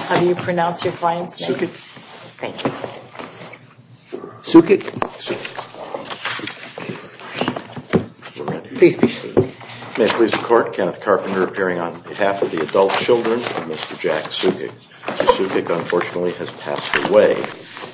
How do you pronounce your client's name? Thank you. Sucic? Sucic. Please be seated. May it please the Court, Kenneth Carpenter appearing on behalf of the adult children of Mr. Jack Sucic. Mr. Sucic, unfortunately, has passed away.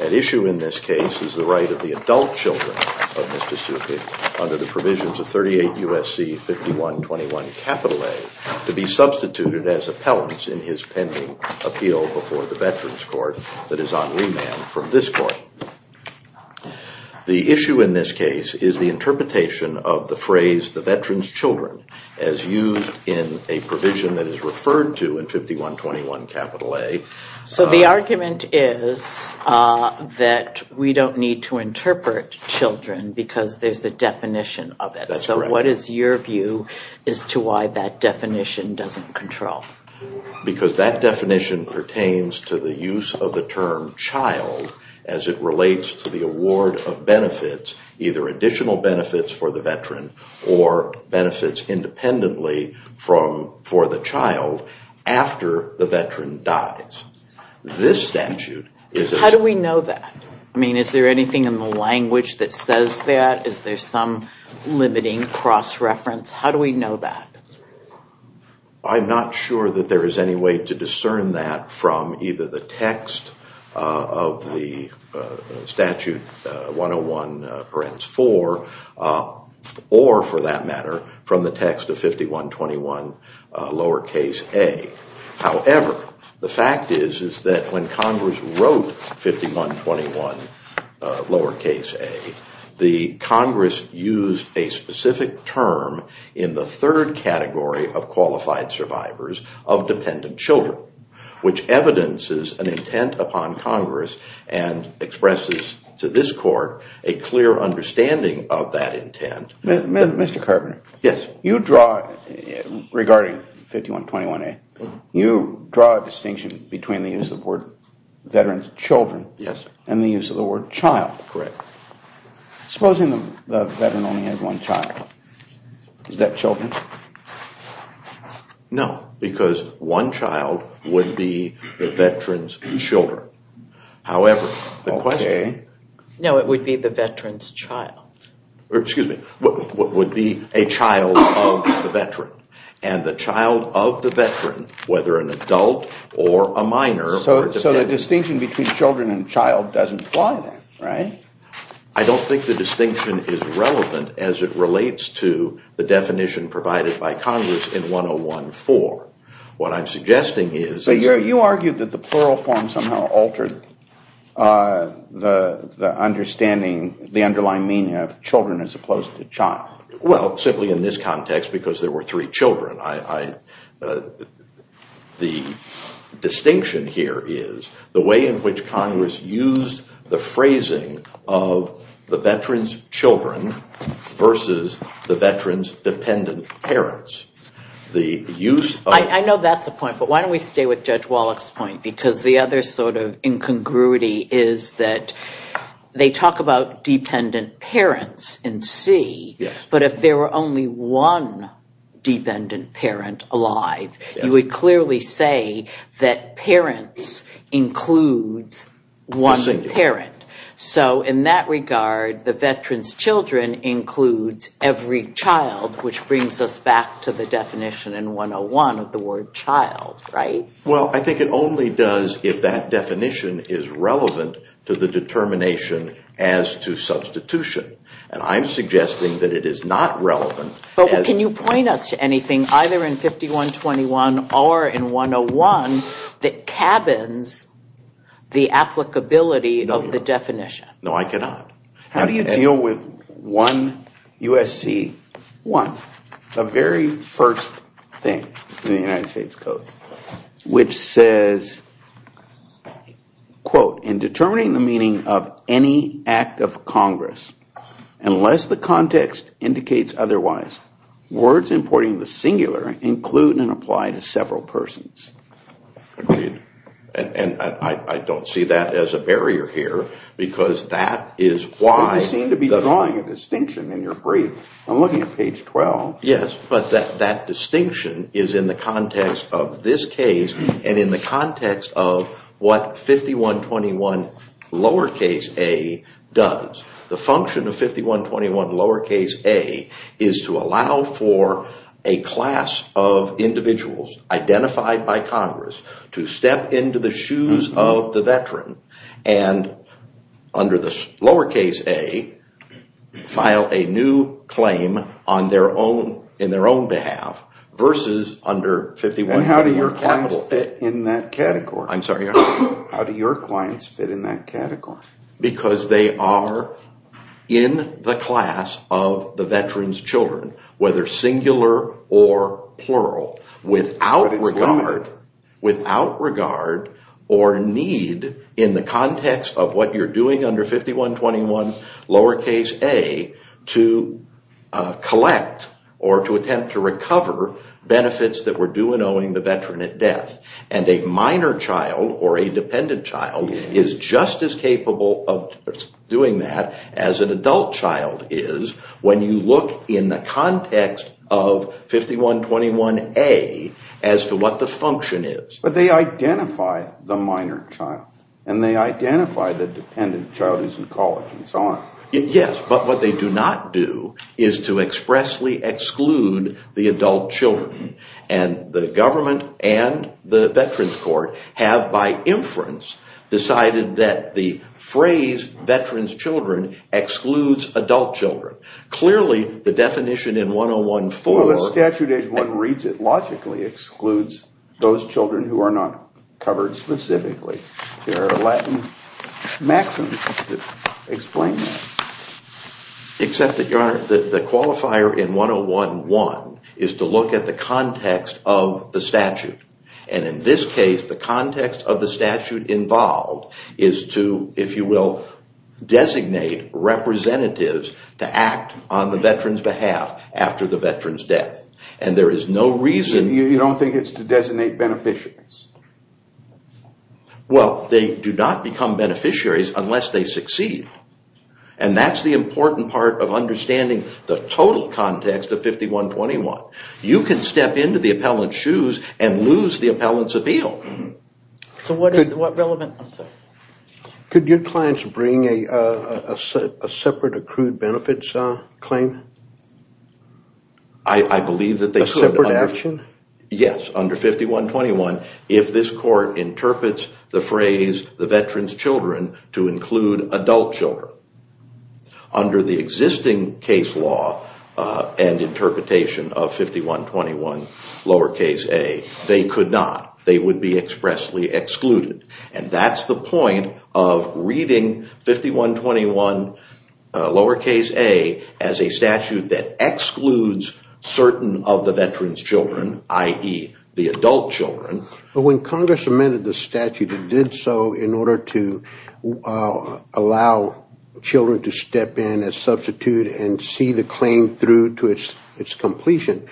At issue in this case is the right of the adult children of Mr. Sucic, under the provisions of 38 U.S.C. 5121 A, to be substituted as appellants in his pending appeal before the veterans court that is on remand from this court. The issue in this case is the interpretation of the phrase the veterans children as used in a provision that is referred to in 5121 A. So the argument is that we don't need to interpret children because there's a definition of it. So what is your view as to why that definition doesn't control? Because that definition pertains to the use of the term child as it relates to the award of benefits, either additional benefits for the veteran or benefits independently for the child after the veteran dies. How do we know that? I mean, is there anything in the language that says that? Is there some limiting cross-reference? How do we know that? I'm not sure that there is any way to discern that from either the text of the statute 101 parens 4 or, for that matter, from the text of 5121 lowercase A. However, the fact is that when Congress wrote 5121 lowercase A, the Congress used a specific term in the third category of qualified survivors of dependent children, which evidences an intent upon Congress and expresses to this court a clear understanding of that intent. Mr. Carpenter. Yes. You draw, regarding 5121A, you draw a distinction between the use of the word veteran's children and the use of the word child. Correct. Supposing the veteran only has one child. Is that children? No, because one child would be the veteran's children. However, the question. No, it would be the veteran's child. Excuse me. What would be a child of the veteran? And the child of the veteran, whether an adult or a minor. So the distinction between children and child doesn't apply there, right? I don't think the distinction is relevant as it relates to the definition provided by Congress in 1014. What I'm suggesting is. You argued that the plural form somehow altered the understanding, the underlying meaning of children as opposed to child. Well, simply in this context, because there were three children. The distinction here is the way in which Congress used the phrasing of the veteran's children versus the veteran's dependent parents. I know that's a point, but why don't we stay with Judge Wallach's point? Because the other sort of incongruity is that they talk about dependent parents in C. But if there were only one dependent parent alive, you would clearly say that parents includes one parent. So in that regard, the veteran's children includes every child, which brings us back to the definition in 101 of the word child, right? Well, I think it only does if that definition is relevant to the determination as to substitution. And I'm suggesting that it is not relevant. But can you point us to anything either in 5121 or in 101 that cabins the applicability of the definition? No, I cannot. How do you deal with 1 U.S.C. 1, the very first thing in the United States Code, which says, quote, in determining the meaning of any act of Congress, unless the context indicates otherwise, words importing the singular include and apply to several persons. And I don't see that as a barrier here, because that is why. You seem to be drawing a distinction in your brief. I'm looking at page 12. Yes, but that distinction is in the context of this case and in the context of what 5121 lowercase a does. The function of 5121 lowercase a is to allow for a class of individuals identified by Congress to step into the shoes of the veteran and under this lowercase a file a new claim on their own in their own behalf versus under 51. How do your clients fit in that category? I'm sorry. How do your clients fit in that category? Because they are in the class of the veteran's children, whether singular or plural, without regard or need in the context of what you're doing under 5121 lowercase a to collect or to attempt to recover benefits that were due and owing the veteran at death. And a minor child or a dependent child is just as capable of doing that as an adult child is when you look in the context of 5121 a as to what the function is. But they identify the minor child and they identify the dependent child who's in college and so on. Yes, but what they do not do is to expressly exclude the adult children. And the government and the veterans court have by inference decided that the phrase veterans children excludes adult children. Clearly the definition in 101-4. The statute reads it logically excludes those children who are not covered specifically. There are Latin maxims that explain that. Except that, Your Honor, the qualifier in 101-1 is to look at the context of the statute. And in this case, the context of the statute involved is to, if you will, designate representatives to act on the veteran's behalf after the veteran's death. And there is no reason. You don't think it's to designate beneficiaries? Well, they do not become beneficiaries unless they succeed. And that's the important part of understanding the total context of 5121. You can step into the appellant's shoes and lose the appellant's appeal. So what is relevant? Could your clients bring a separate accrued benefits claim? I believe that they could. A separate action? Yes, under 5121. If this court interprets the phrase, the veteran's children, to include adult children. Under the existing case law and interpretation of 5121 lowercase a, they could not. They would be expressly excluded. And that's the point of reading 5121 lowercase a as a statute that excludes certain of the veteran's children, i.e., the adult children. But when Congress amended the statute, it did so in order to allow children to step in as substitute and see the claim through to its completion.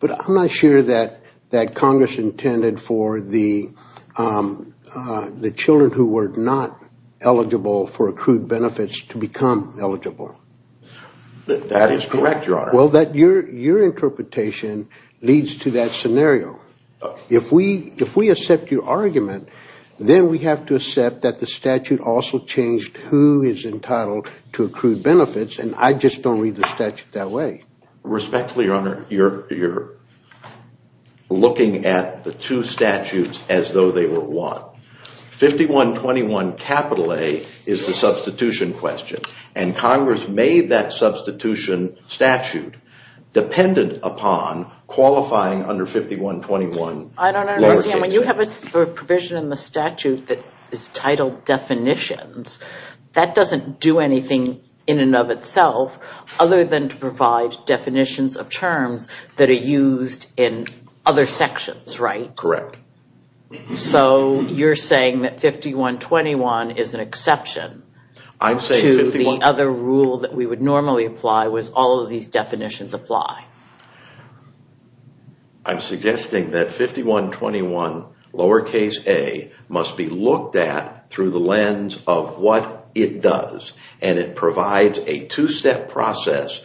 But I'm not sure that Congress intended for the children who were not eligible for accrued benefits to become eligible. That is correct, Your Honor. Well, your interpretation leads to that scenario. If we accept your argument, then we have to accept that the statute also changed who is entitled to accrued benefits. And I just don't read the statute that way. Respectfully, Your Honor, you're looking at the two statutes as though they were one. 5121 capital a is the substitution question. And Congress made that substitution statute dependent upon qualifying under 5121 lowercase a. I don't understand. When you have a provision in the statute that is titled definitions, that doesn't do anything in and of itself other than to provide definitions of terms that are used in other sections, right? Correct. So you're saying that 5121 is an exception to the other rule that we would normally apply was all of these definitions apply. I'm suggesting that 5121 lowercase a must be looked at through the lens of what it does. And it provides a two-step process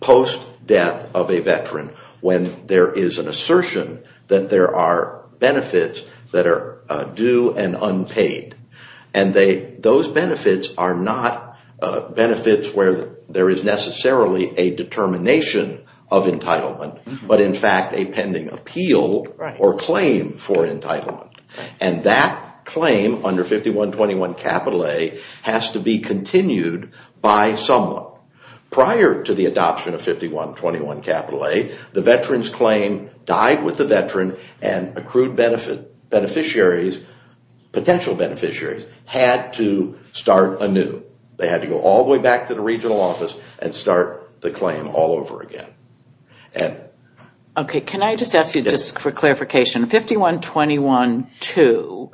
post-death of a veteran when there is an assertion that there are benefits that are due and unpaid. And those benefits are not benefits where there is necessarily a determination of entitlement, but in fact a pending appeal or claim for entitlement. And that claim under 5121 capital a has to be continued by someone. They had to go all the way back to the regional office and start the claim all over again. Okay. Can I just ask you just for clarification? 5121-2,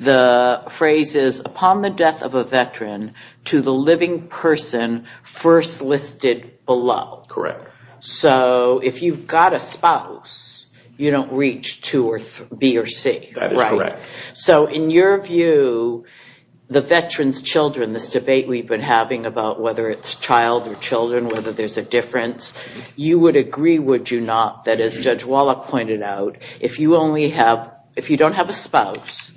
the phrase is upon the death of a veteran to the living person first listed below. Correct. So if you've got a spouse, you don't reach 2 or B or C. That is correct. So in your view, the veterans' children, this debate we've been having about whether it's child or children, whether there's a difference, you would agree, would you not, that as Judge Wallach pointed out, if you don't have a spouse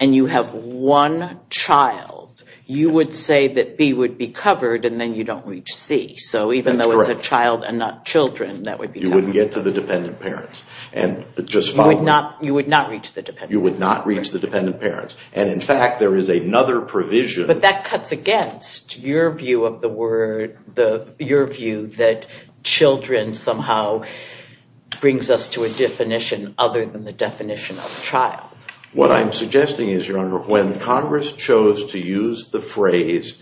and you have one child, you would say that B would be covered and then you don't reach C. That's correct. So even though it's a child and not children, that would be covered. You wouldn't get to the dependent parent. You would not reach the dependent parent. You would not reach the dependent parent. And in fact, there is another provision. But that cuts against your view of the word, your view that children somehow brings us to a definition other than the definition of child. What I'm suggesting is, Your Honor, when Congress chose to use the phrase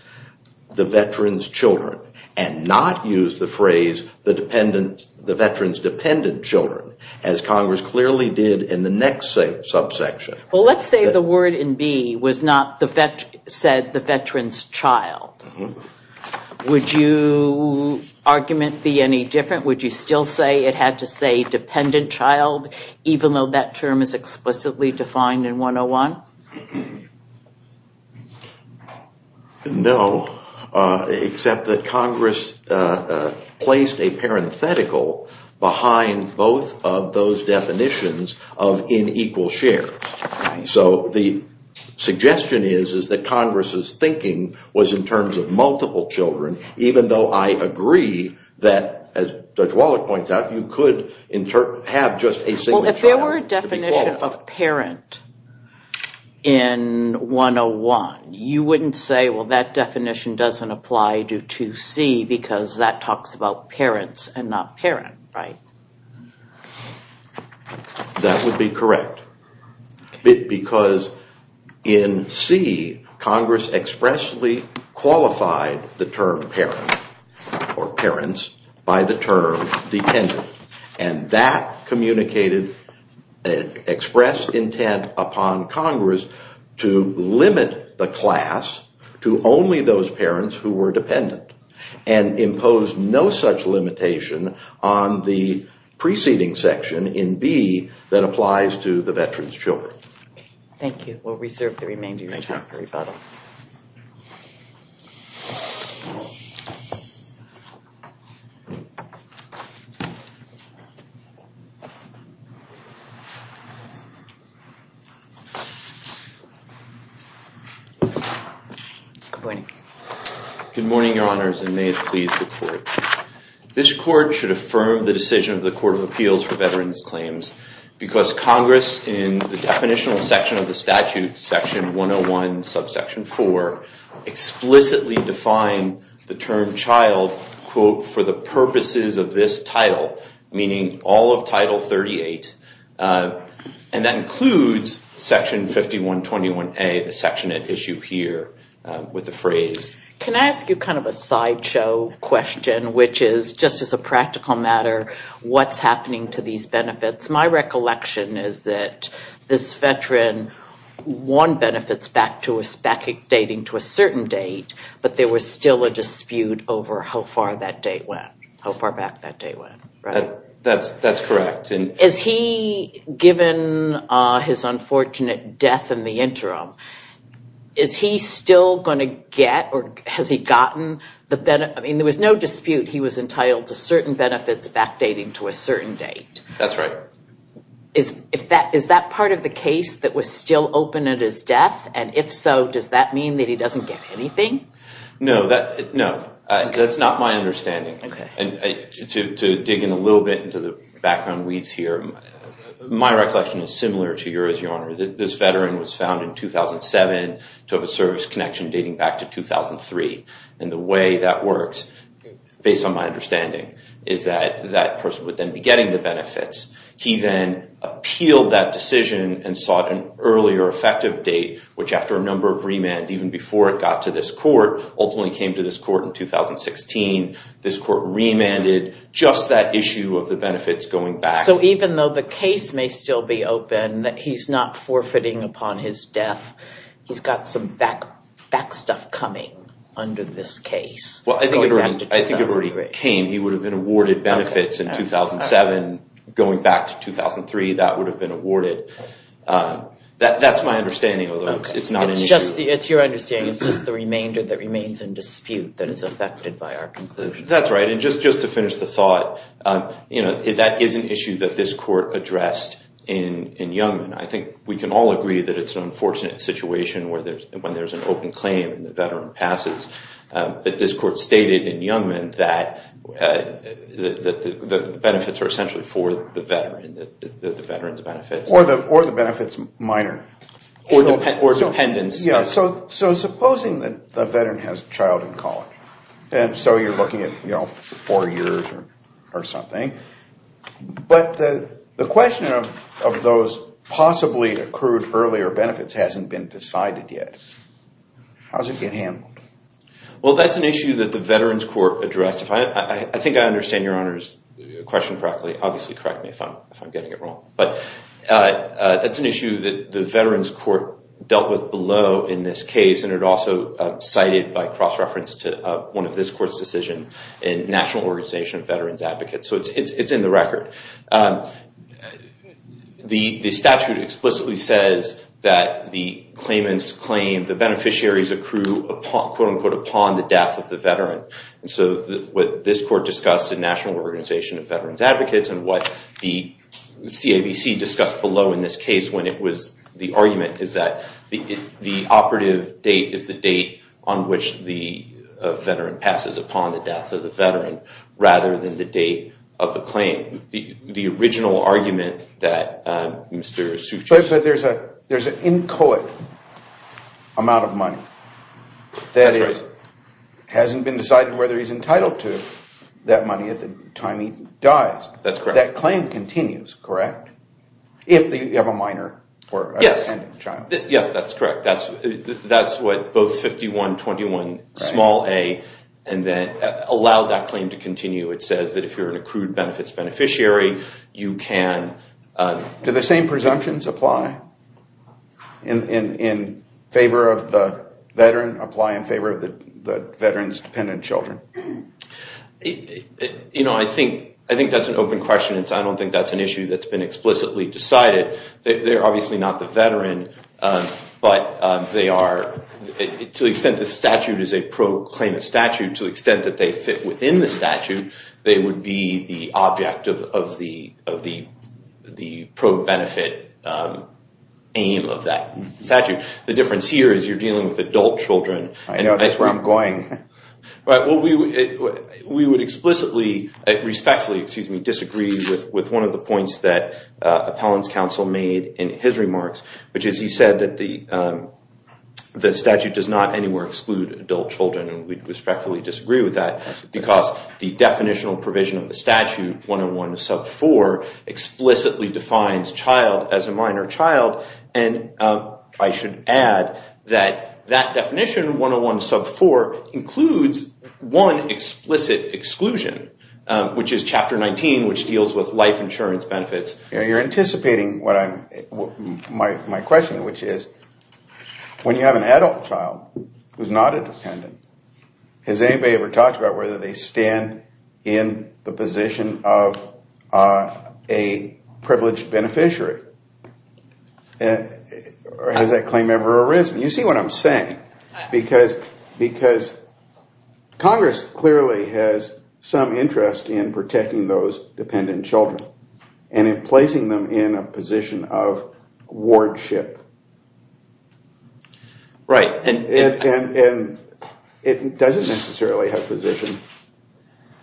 the veterans' children and not use the phrase the veterans' dependent children, as Congress clearly did in the next subsection. Well, let's say the word in B said the veterans' child. Would your argument be any different? Would you still say it had to say dependent child, even though that term is explicitly defined in 101? No, except that Congress placed a parenthetical behind both of those definitions of in equal share. So the suggestion is that Congress' thinking was in terms of multiple children, even though I agree that, as Judge Wallach points out, you could have just a single child. Well, if there were a definition of parent in 101, you wouldn't say, well, that definition doesn't apply to 2C, because that talks about parents and not parent, right? That would be correct. Because in C, Congress expressly qualified the term parent or parents by the term dependent. And that communicated, expressed intent upon Congress to limit the class to only those parents who were dependent and imposed no such limitation on the preceding section in B that applies to the veterans' children. Thank you. We'll reserve the remainder of your time for rebuttal. Good morning. Good morning, Your Honors, and may it please the Court. This Court should affirm the decision of the Court of Appeals for veterans' claims because Congress, in the definitional section of the statute, Section 101, Subsection 4, explicitly defined the term child, quote, for the purposes of this title, meaning all of Title 38. And that includes Section 5121A, the section at issue here, with the phrase. Can I ask you kind of a sideshow question, which is, just as a practical matter, what's happening to these benefits? My recollection is that this veteran won benefits backdating to a certain date, but there was still a dispute over how far that date went, how far back that date went. That's correct. Is he, given his unfortunate death in the interim, is he still going to get or has he gotten the benefit? I mean, there was no dispute he was entitled to certain benefits backdating to a certain date. That's right. Is that part of the case that was still open at his death? And if so, does that mean that he doesn't get anything? No, that's not my understanding. And to dig in a little bit into the background weeds here, my recollection is similar to yours, Your Honor. This veteran was found in 2007 to have a service connection dating back to 2003. And the way that works, based on my understanding, is that that person would then be getting the benefits. He then appealed that decision and sought an earlier effective date, which after a number of remands, even before it got to this court, ultimately came to this court in 2016. This court remanded just that issue of the benefits going back. So even though the case may still be open, that he's not forfeiting upon his death, he's got some back stuff coming under this case. Well, I think it already came. He would have been awarded benefits in 2007. Going back to 2003, that would have been awarded. That's my understanding, although it's not an issue. It's your understanding. It's just the remainder that remains in dispute that is affected by our conclusion. That's right. And just to finish the thought, that is an issue that this court addressed in Youngman. I think we can all agree that it's an unfortunate situation when there's an open claim and the veteran passes. But this court stated in Youngman that the benefits are essentially for the veteran, the veteran's benefits. Or the benefits minor. Or dependents. So supposing that the veteran has a child in college. And so you're looking at four years or something. But the question of those possibly accrued earlier benefits hasn't been decided yet. How does it get handled? Well, that's an issue that the Veterans Court addressed. I think I understand Your Honor's question correctly. Obviously, correct me if I'm getting it wrong. But that's an issue that the Veterans Court dealt with below in this case. And it also cited by cross-reference to one of this court's decisions in National Organization of Veterans Advocates. So it's in the record. The statute explicitly says that the claimants claim the beneficiaries accrue, quote-unquote, upon the death of the veteran. And so what this court discussed in National Organization of Veterans Advocates and what the CAVC discussed below in this case when it was the argument is that the operative date is the date on which the veteran passes upon the death of the veteran, rather than the date of the claim. The original argument that Mr. Soukjian... But there's an inchoate amount of money that hasn't been decided whether he's entitled to that money at the time he dies. That's correct. That claim continues, correct? If you have a minor or a child. Yes, that's correct. That's what both 51-21-a allow that claim to continue. It says that if you're an accrued benefits beneficiary, you can... Do the same presumptions apply in favor of the veteran, apply in favor of the veteran's dependent children? You know, I think that's an open question. I don't think that's an issue that's been explicitly decided. They're obviously not the veteran, but they are... To the extent the statute is a pro-claimant statute, to the extent that they fit within the statute, they would be the object of the pro-benefit aim of that statute. The difference here is you're dealing with adult children. I know that's where I'm going. We would respectfully disagree with one of the points that Appellant's counsel made in his remarks, which is he said that the statute does not anywhere exclude adult children, and we'd respectfully disagree with that because the definitional provision of the statute, 101 sub 4, explicitly defines child as a minor child. And I should add that that definition, 101 sub 4, includes one explicit exclusion, which is Chapter 19, which deals with life insurance benefits. You're anticipating my question, which is, when you have an adult child who's not a dependent, has anybody ever talked about whether they stand in the position of a privileged beneficiary? Or has that claim ever arisen? You see what I'm saying. Because Congress clearly has some interest in protecting those dependent children, and in placing them in a position of wardship. Right. And it doesn't necessarily have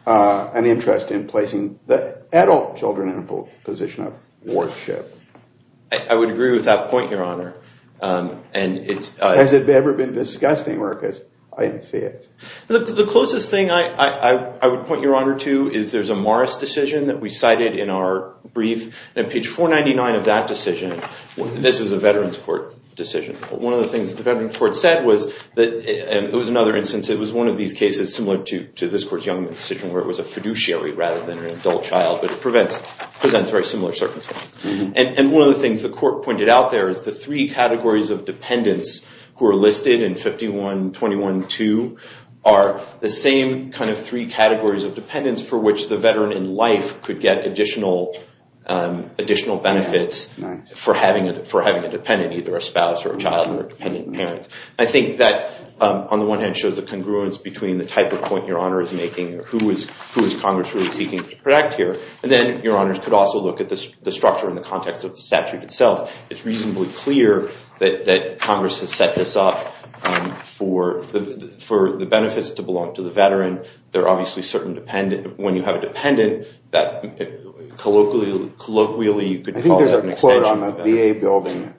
an interest in placing the adult children in a position of wardship. I would agree with that point, Your Honor. Has it ever been discussed anywhere? Because I didn't see it. The closest thing I would point Your Honor to is there's a Morris decision that we cited in our brief. And page 499 of that decision, this is a Veterans Court decision. One of the things that the Veterans Court said was that it was another instance. It was one of these cases similar to this Court's Youngman decision, where it was a fiduciary rather than an adult child, but it presents very similar circumstances. And one of the things the Court pointed out there is the three categories of dependents who are listed in 51-21-2 are the same kind of three categories of dependents for which the veteran in life could get additional benefits for having a dependent, either a spouse or a child or a dependent parent. I think that, on the one hand, shows a congruence between the type of point Your Honor is making, or who is Congress really seeking to protect here. And then Your Honors could also look at the structure in the context of the statute itself. It's reasonably clear that Congress has set this up for the benefits to belong to the veteran. There are obviously certain dependents. When you have a dependent, colloquially you could call it an extension. I think there's a quote on the VA building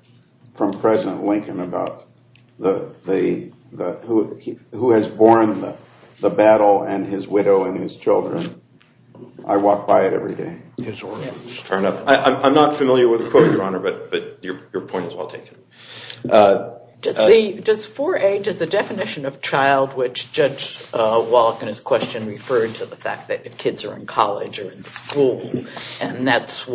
from President Lincoln about who has borne the battle and his widow and his children. I walk by it every day. I'm not familiar with the quote, Your Honor, but your point is well taken. Does 4A, does the definition of child, which Judge Wallach in his question referred to, the fact that kids are in college or in school, and that's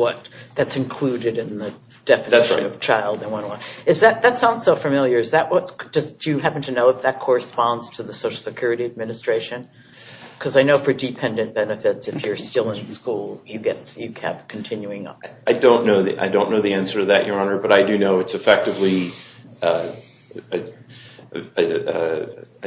included in the definition of child? That sounds so familiar. Do you happen to know if that corresponds to the Social Security Administration? Because I know for dependent benefits, if you're still in school, you kept continuing on. I don't know the answer to that, Your Honor, but I do know it's effectively, I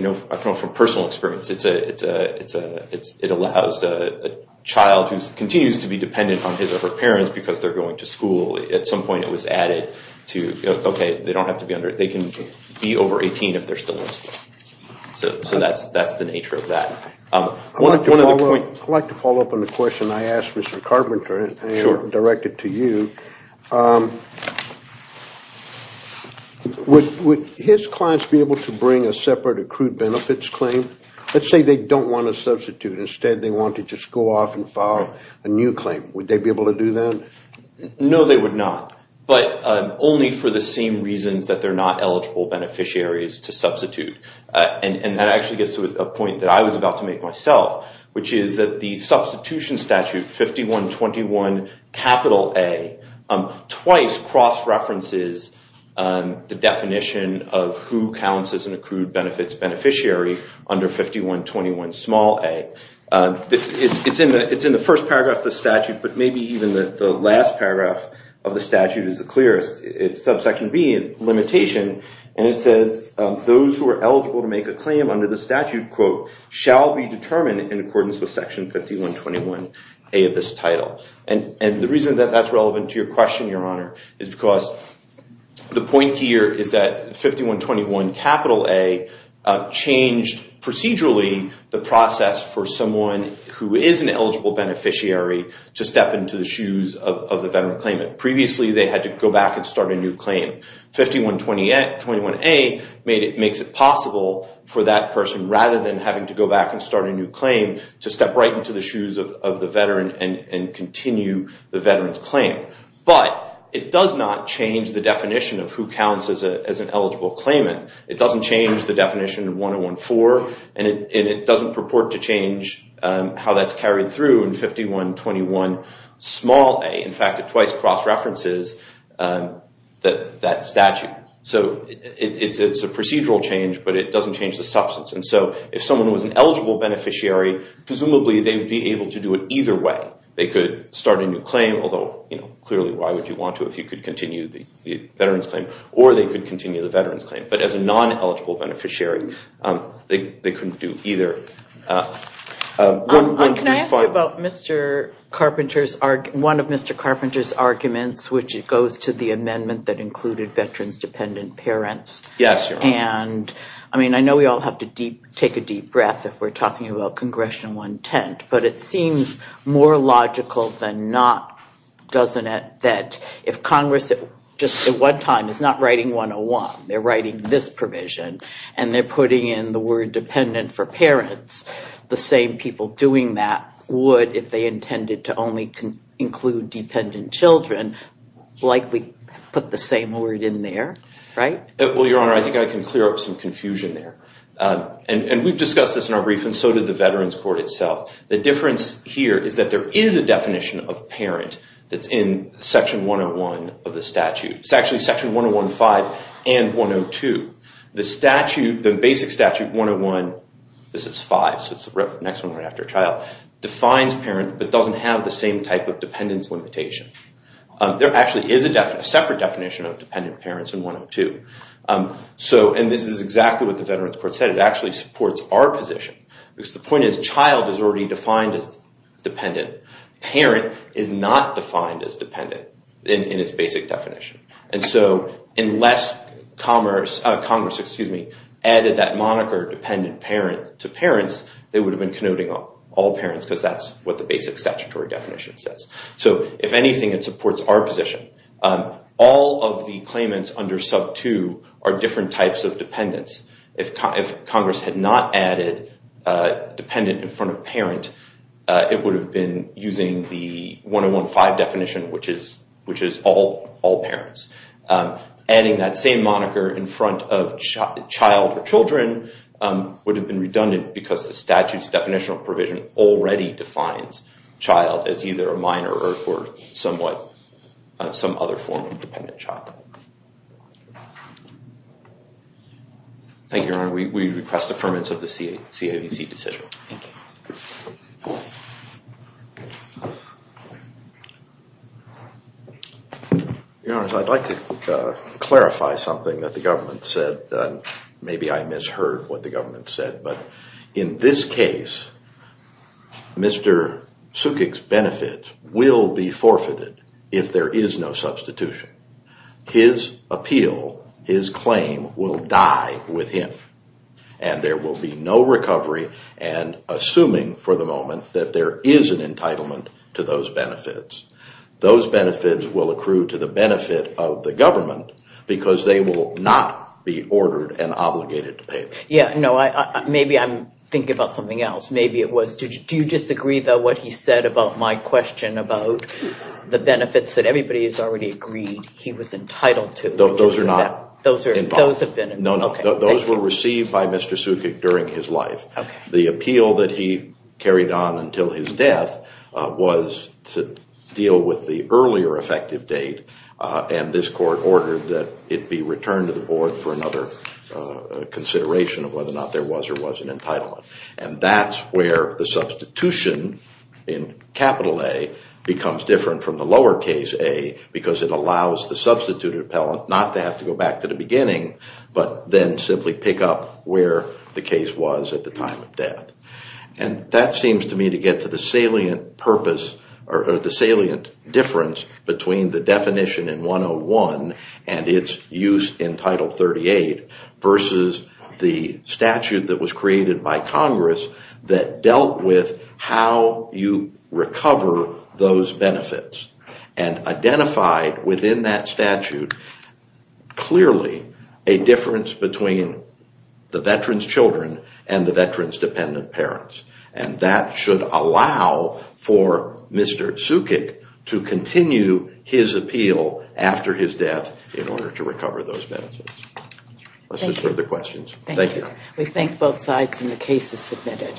know from personal experience, it allows a child who continues to be dependent on his or her parents because they're going to school. At some point it was added to, okay, they don't have to be under, so that's the nature of that. I'd like to follow up on the question I asked Mr. Carpenter and directed to you. Would his clients be able to bring a separate accrued benefits claim? Let's say they don't want to substitute. Instead, they want to just go off and file a new claim. Would they be able to do that? No, they would not, but only for the same reasons that they're not eligible beneficiaries to substitute. That actually gets to a point that I was about to make myself, which is that the substitution statute, 5121A, twice cross-references the definition of who counts as an accrued benefits beneficiary under 5121a. It's in the first paragraph of the statute, but maybe even the last paragraph of the statute is the clearest. It's subsection B, limitation, and it says, those who are eligible to make a claim under the statute, quote, shall be determined in accordance with section 5121a of this title. The reason that that's relevant to your question, Your Honor, is because the point here is that 5121A changed procedurally the process for someone who is an eligible beneficiary to step into the shoes of the veteran claimant. Previously, they had to go back and start a new claim. 5121A makes it possible for that person, rather than having to go back and start a new claim, to step right into the shoes of the veteran and continue the veteran's claim. But it does not change the definition of who counts as an eligible claimant. It doesn't change the definition of 1014, and it doesn't purport to change how that's carried through in 5121a. In fact, it twice cross-references that statute. So it's a procedural change, but it doesn't change the substance. And so if someone was an eligible beneficiary, presumably they would be able to do it either way. They could start a new claim, although clearly why would you want to if you could continue the veteran's claim, or they could continue the veteran's claim. But as a non-eligible beneficiary, they couldn't do either. Can I ask you about one of Mr. Carpenter's arguments, which goes to the amendment that included veterans' dependent parents? Yes, Your Honor. I mean, I know we all have to take a deep breath if we're talking about Congressional intent, but it seems more logical than not, doesn't it, that if Congress just at one time is not writing 101, they're writing this provision, and they're putting in the word dependent for parents, the same people doing that would, if they intended to only include dependent children, likely put the same word in there, right? Well, Your Honor, I think I can clear up some confusion there. And we've discussed this in our brief, and so did the Veterans Court itself. The difference here is that there is a definition of parent that's in Section 101 of the statute. It's actually Section 101.5 and 102. The basic statute 101, this is 5, so it's the next one right after child, defines parent but doesn't have the same type of dependence limitation. There actually is a separate definition of dependent parents in 102. And this is exactly what the Veterans Court said. It actually supports our position because the point is child is already defined as dependent. Parent is not defined as dependent in its basic definition. And so unless Congress added that moniker dependent parent to parents, they would have been connoting all parents because that's what the basic statutory definition says. So if anything, it supports our position. All of the claimants under sub 2 are different types of dependents. If Congress had not added dependent in front of parent, it would have been using the 101.5 definition, which is all parents. Adding that same moniker in front of child or children would have been redundant because the statute's definitional provision already defines child as either a minor or somewhat some other form of dependent child. Thank you, Your Honor. We request affirmance of the CAVC decision. Thank you. Your Honor, I'd like to clarify something that the government said. Maybe I misheard what the government said. But in this case, Mr. Sukik's benefits will be forfeited if there is no substitution. His appeal, his claim, will die with him. And there will be no recovery. And assuming for the moment that there is an entitlement to those benefits, those benefits will accrue to the benefit of the government because they will not be ordered and obligated to pay them. Maybe I'm thinking about something else. Do you disagree, though, with what he said about my question about the benefits that everybody has already agreed he was entitled to? Those are not involved. Those were received by Mr. Sukik during his life. The appeal that he carried on until his death was to deal with the earlier effective date. And this court ordered that it be returned to the board for another consideration of whether or not there was or wasn't an entitlement. And that's where the substitution in capital A becomes different from the lower case A because it allows the substituted appellant not to have to go back to the beginning but then simply pick up where the case was at the time of death. And that seems to me to get to the salient purpose or the salient difference between the definition in 101 and its use in Title 38 versus the statute that was created by Congress that dealt with how you recover those benefits and identified within that statute clearly a difference between the veteran's children and the veteran's dependent parents. And that should allow for Mr. Sukik to continue his appeal after his death in order to recover those benefits. Let's move to further questions. Thank you. We thank both sides and the case is submitted.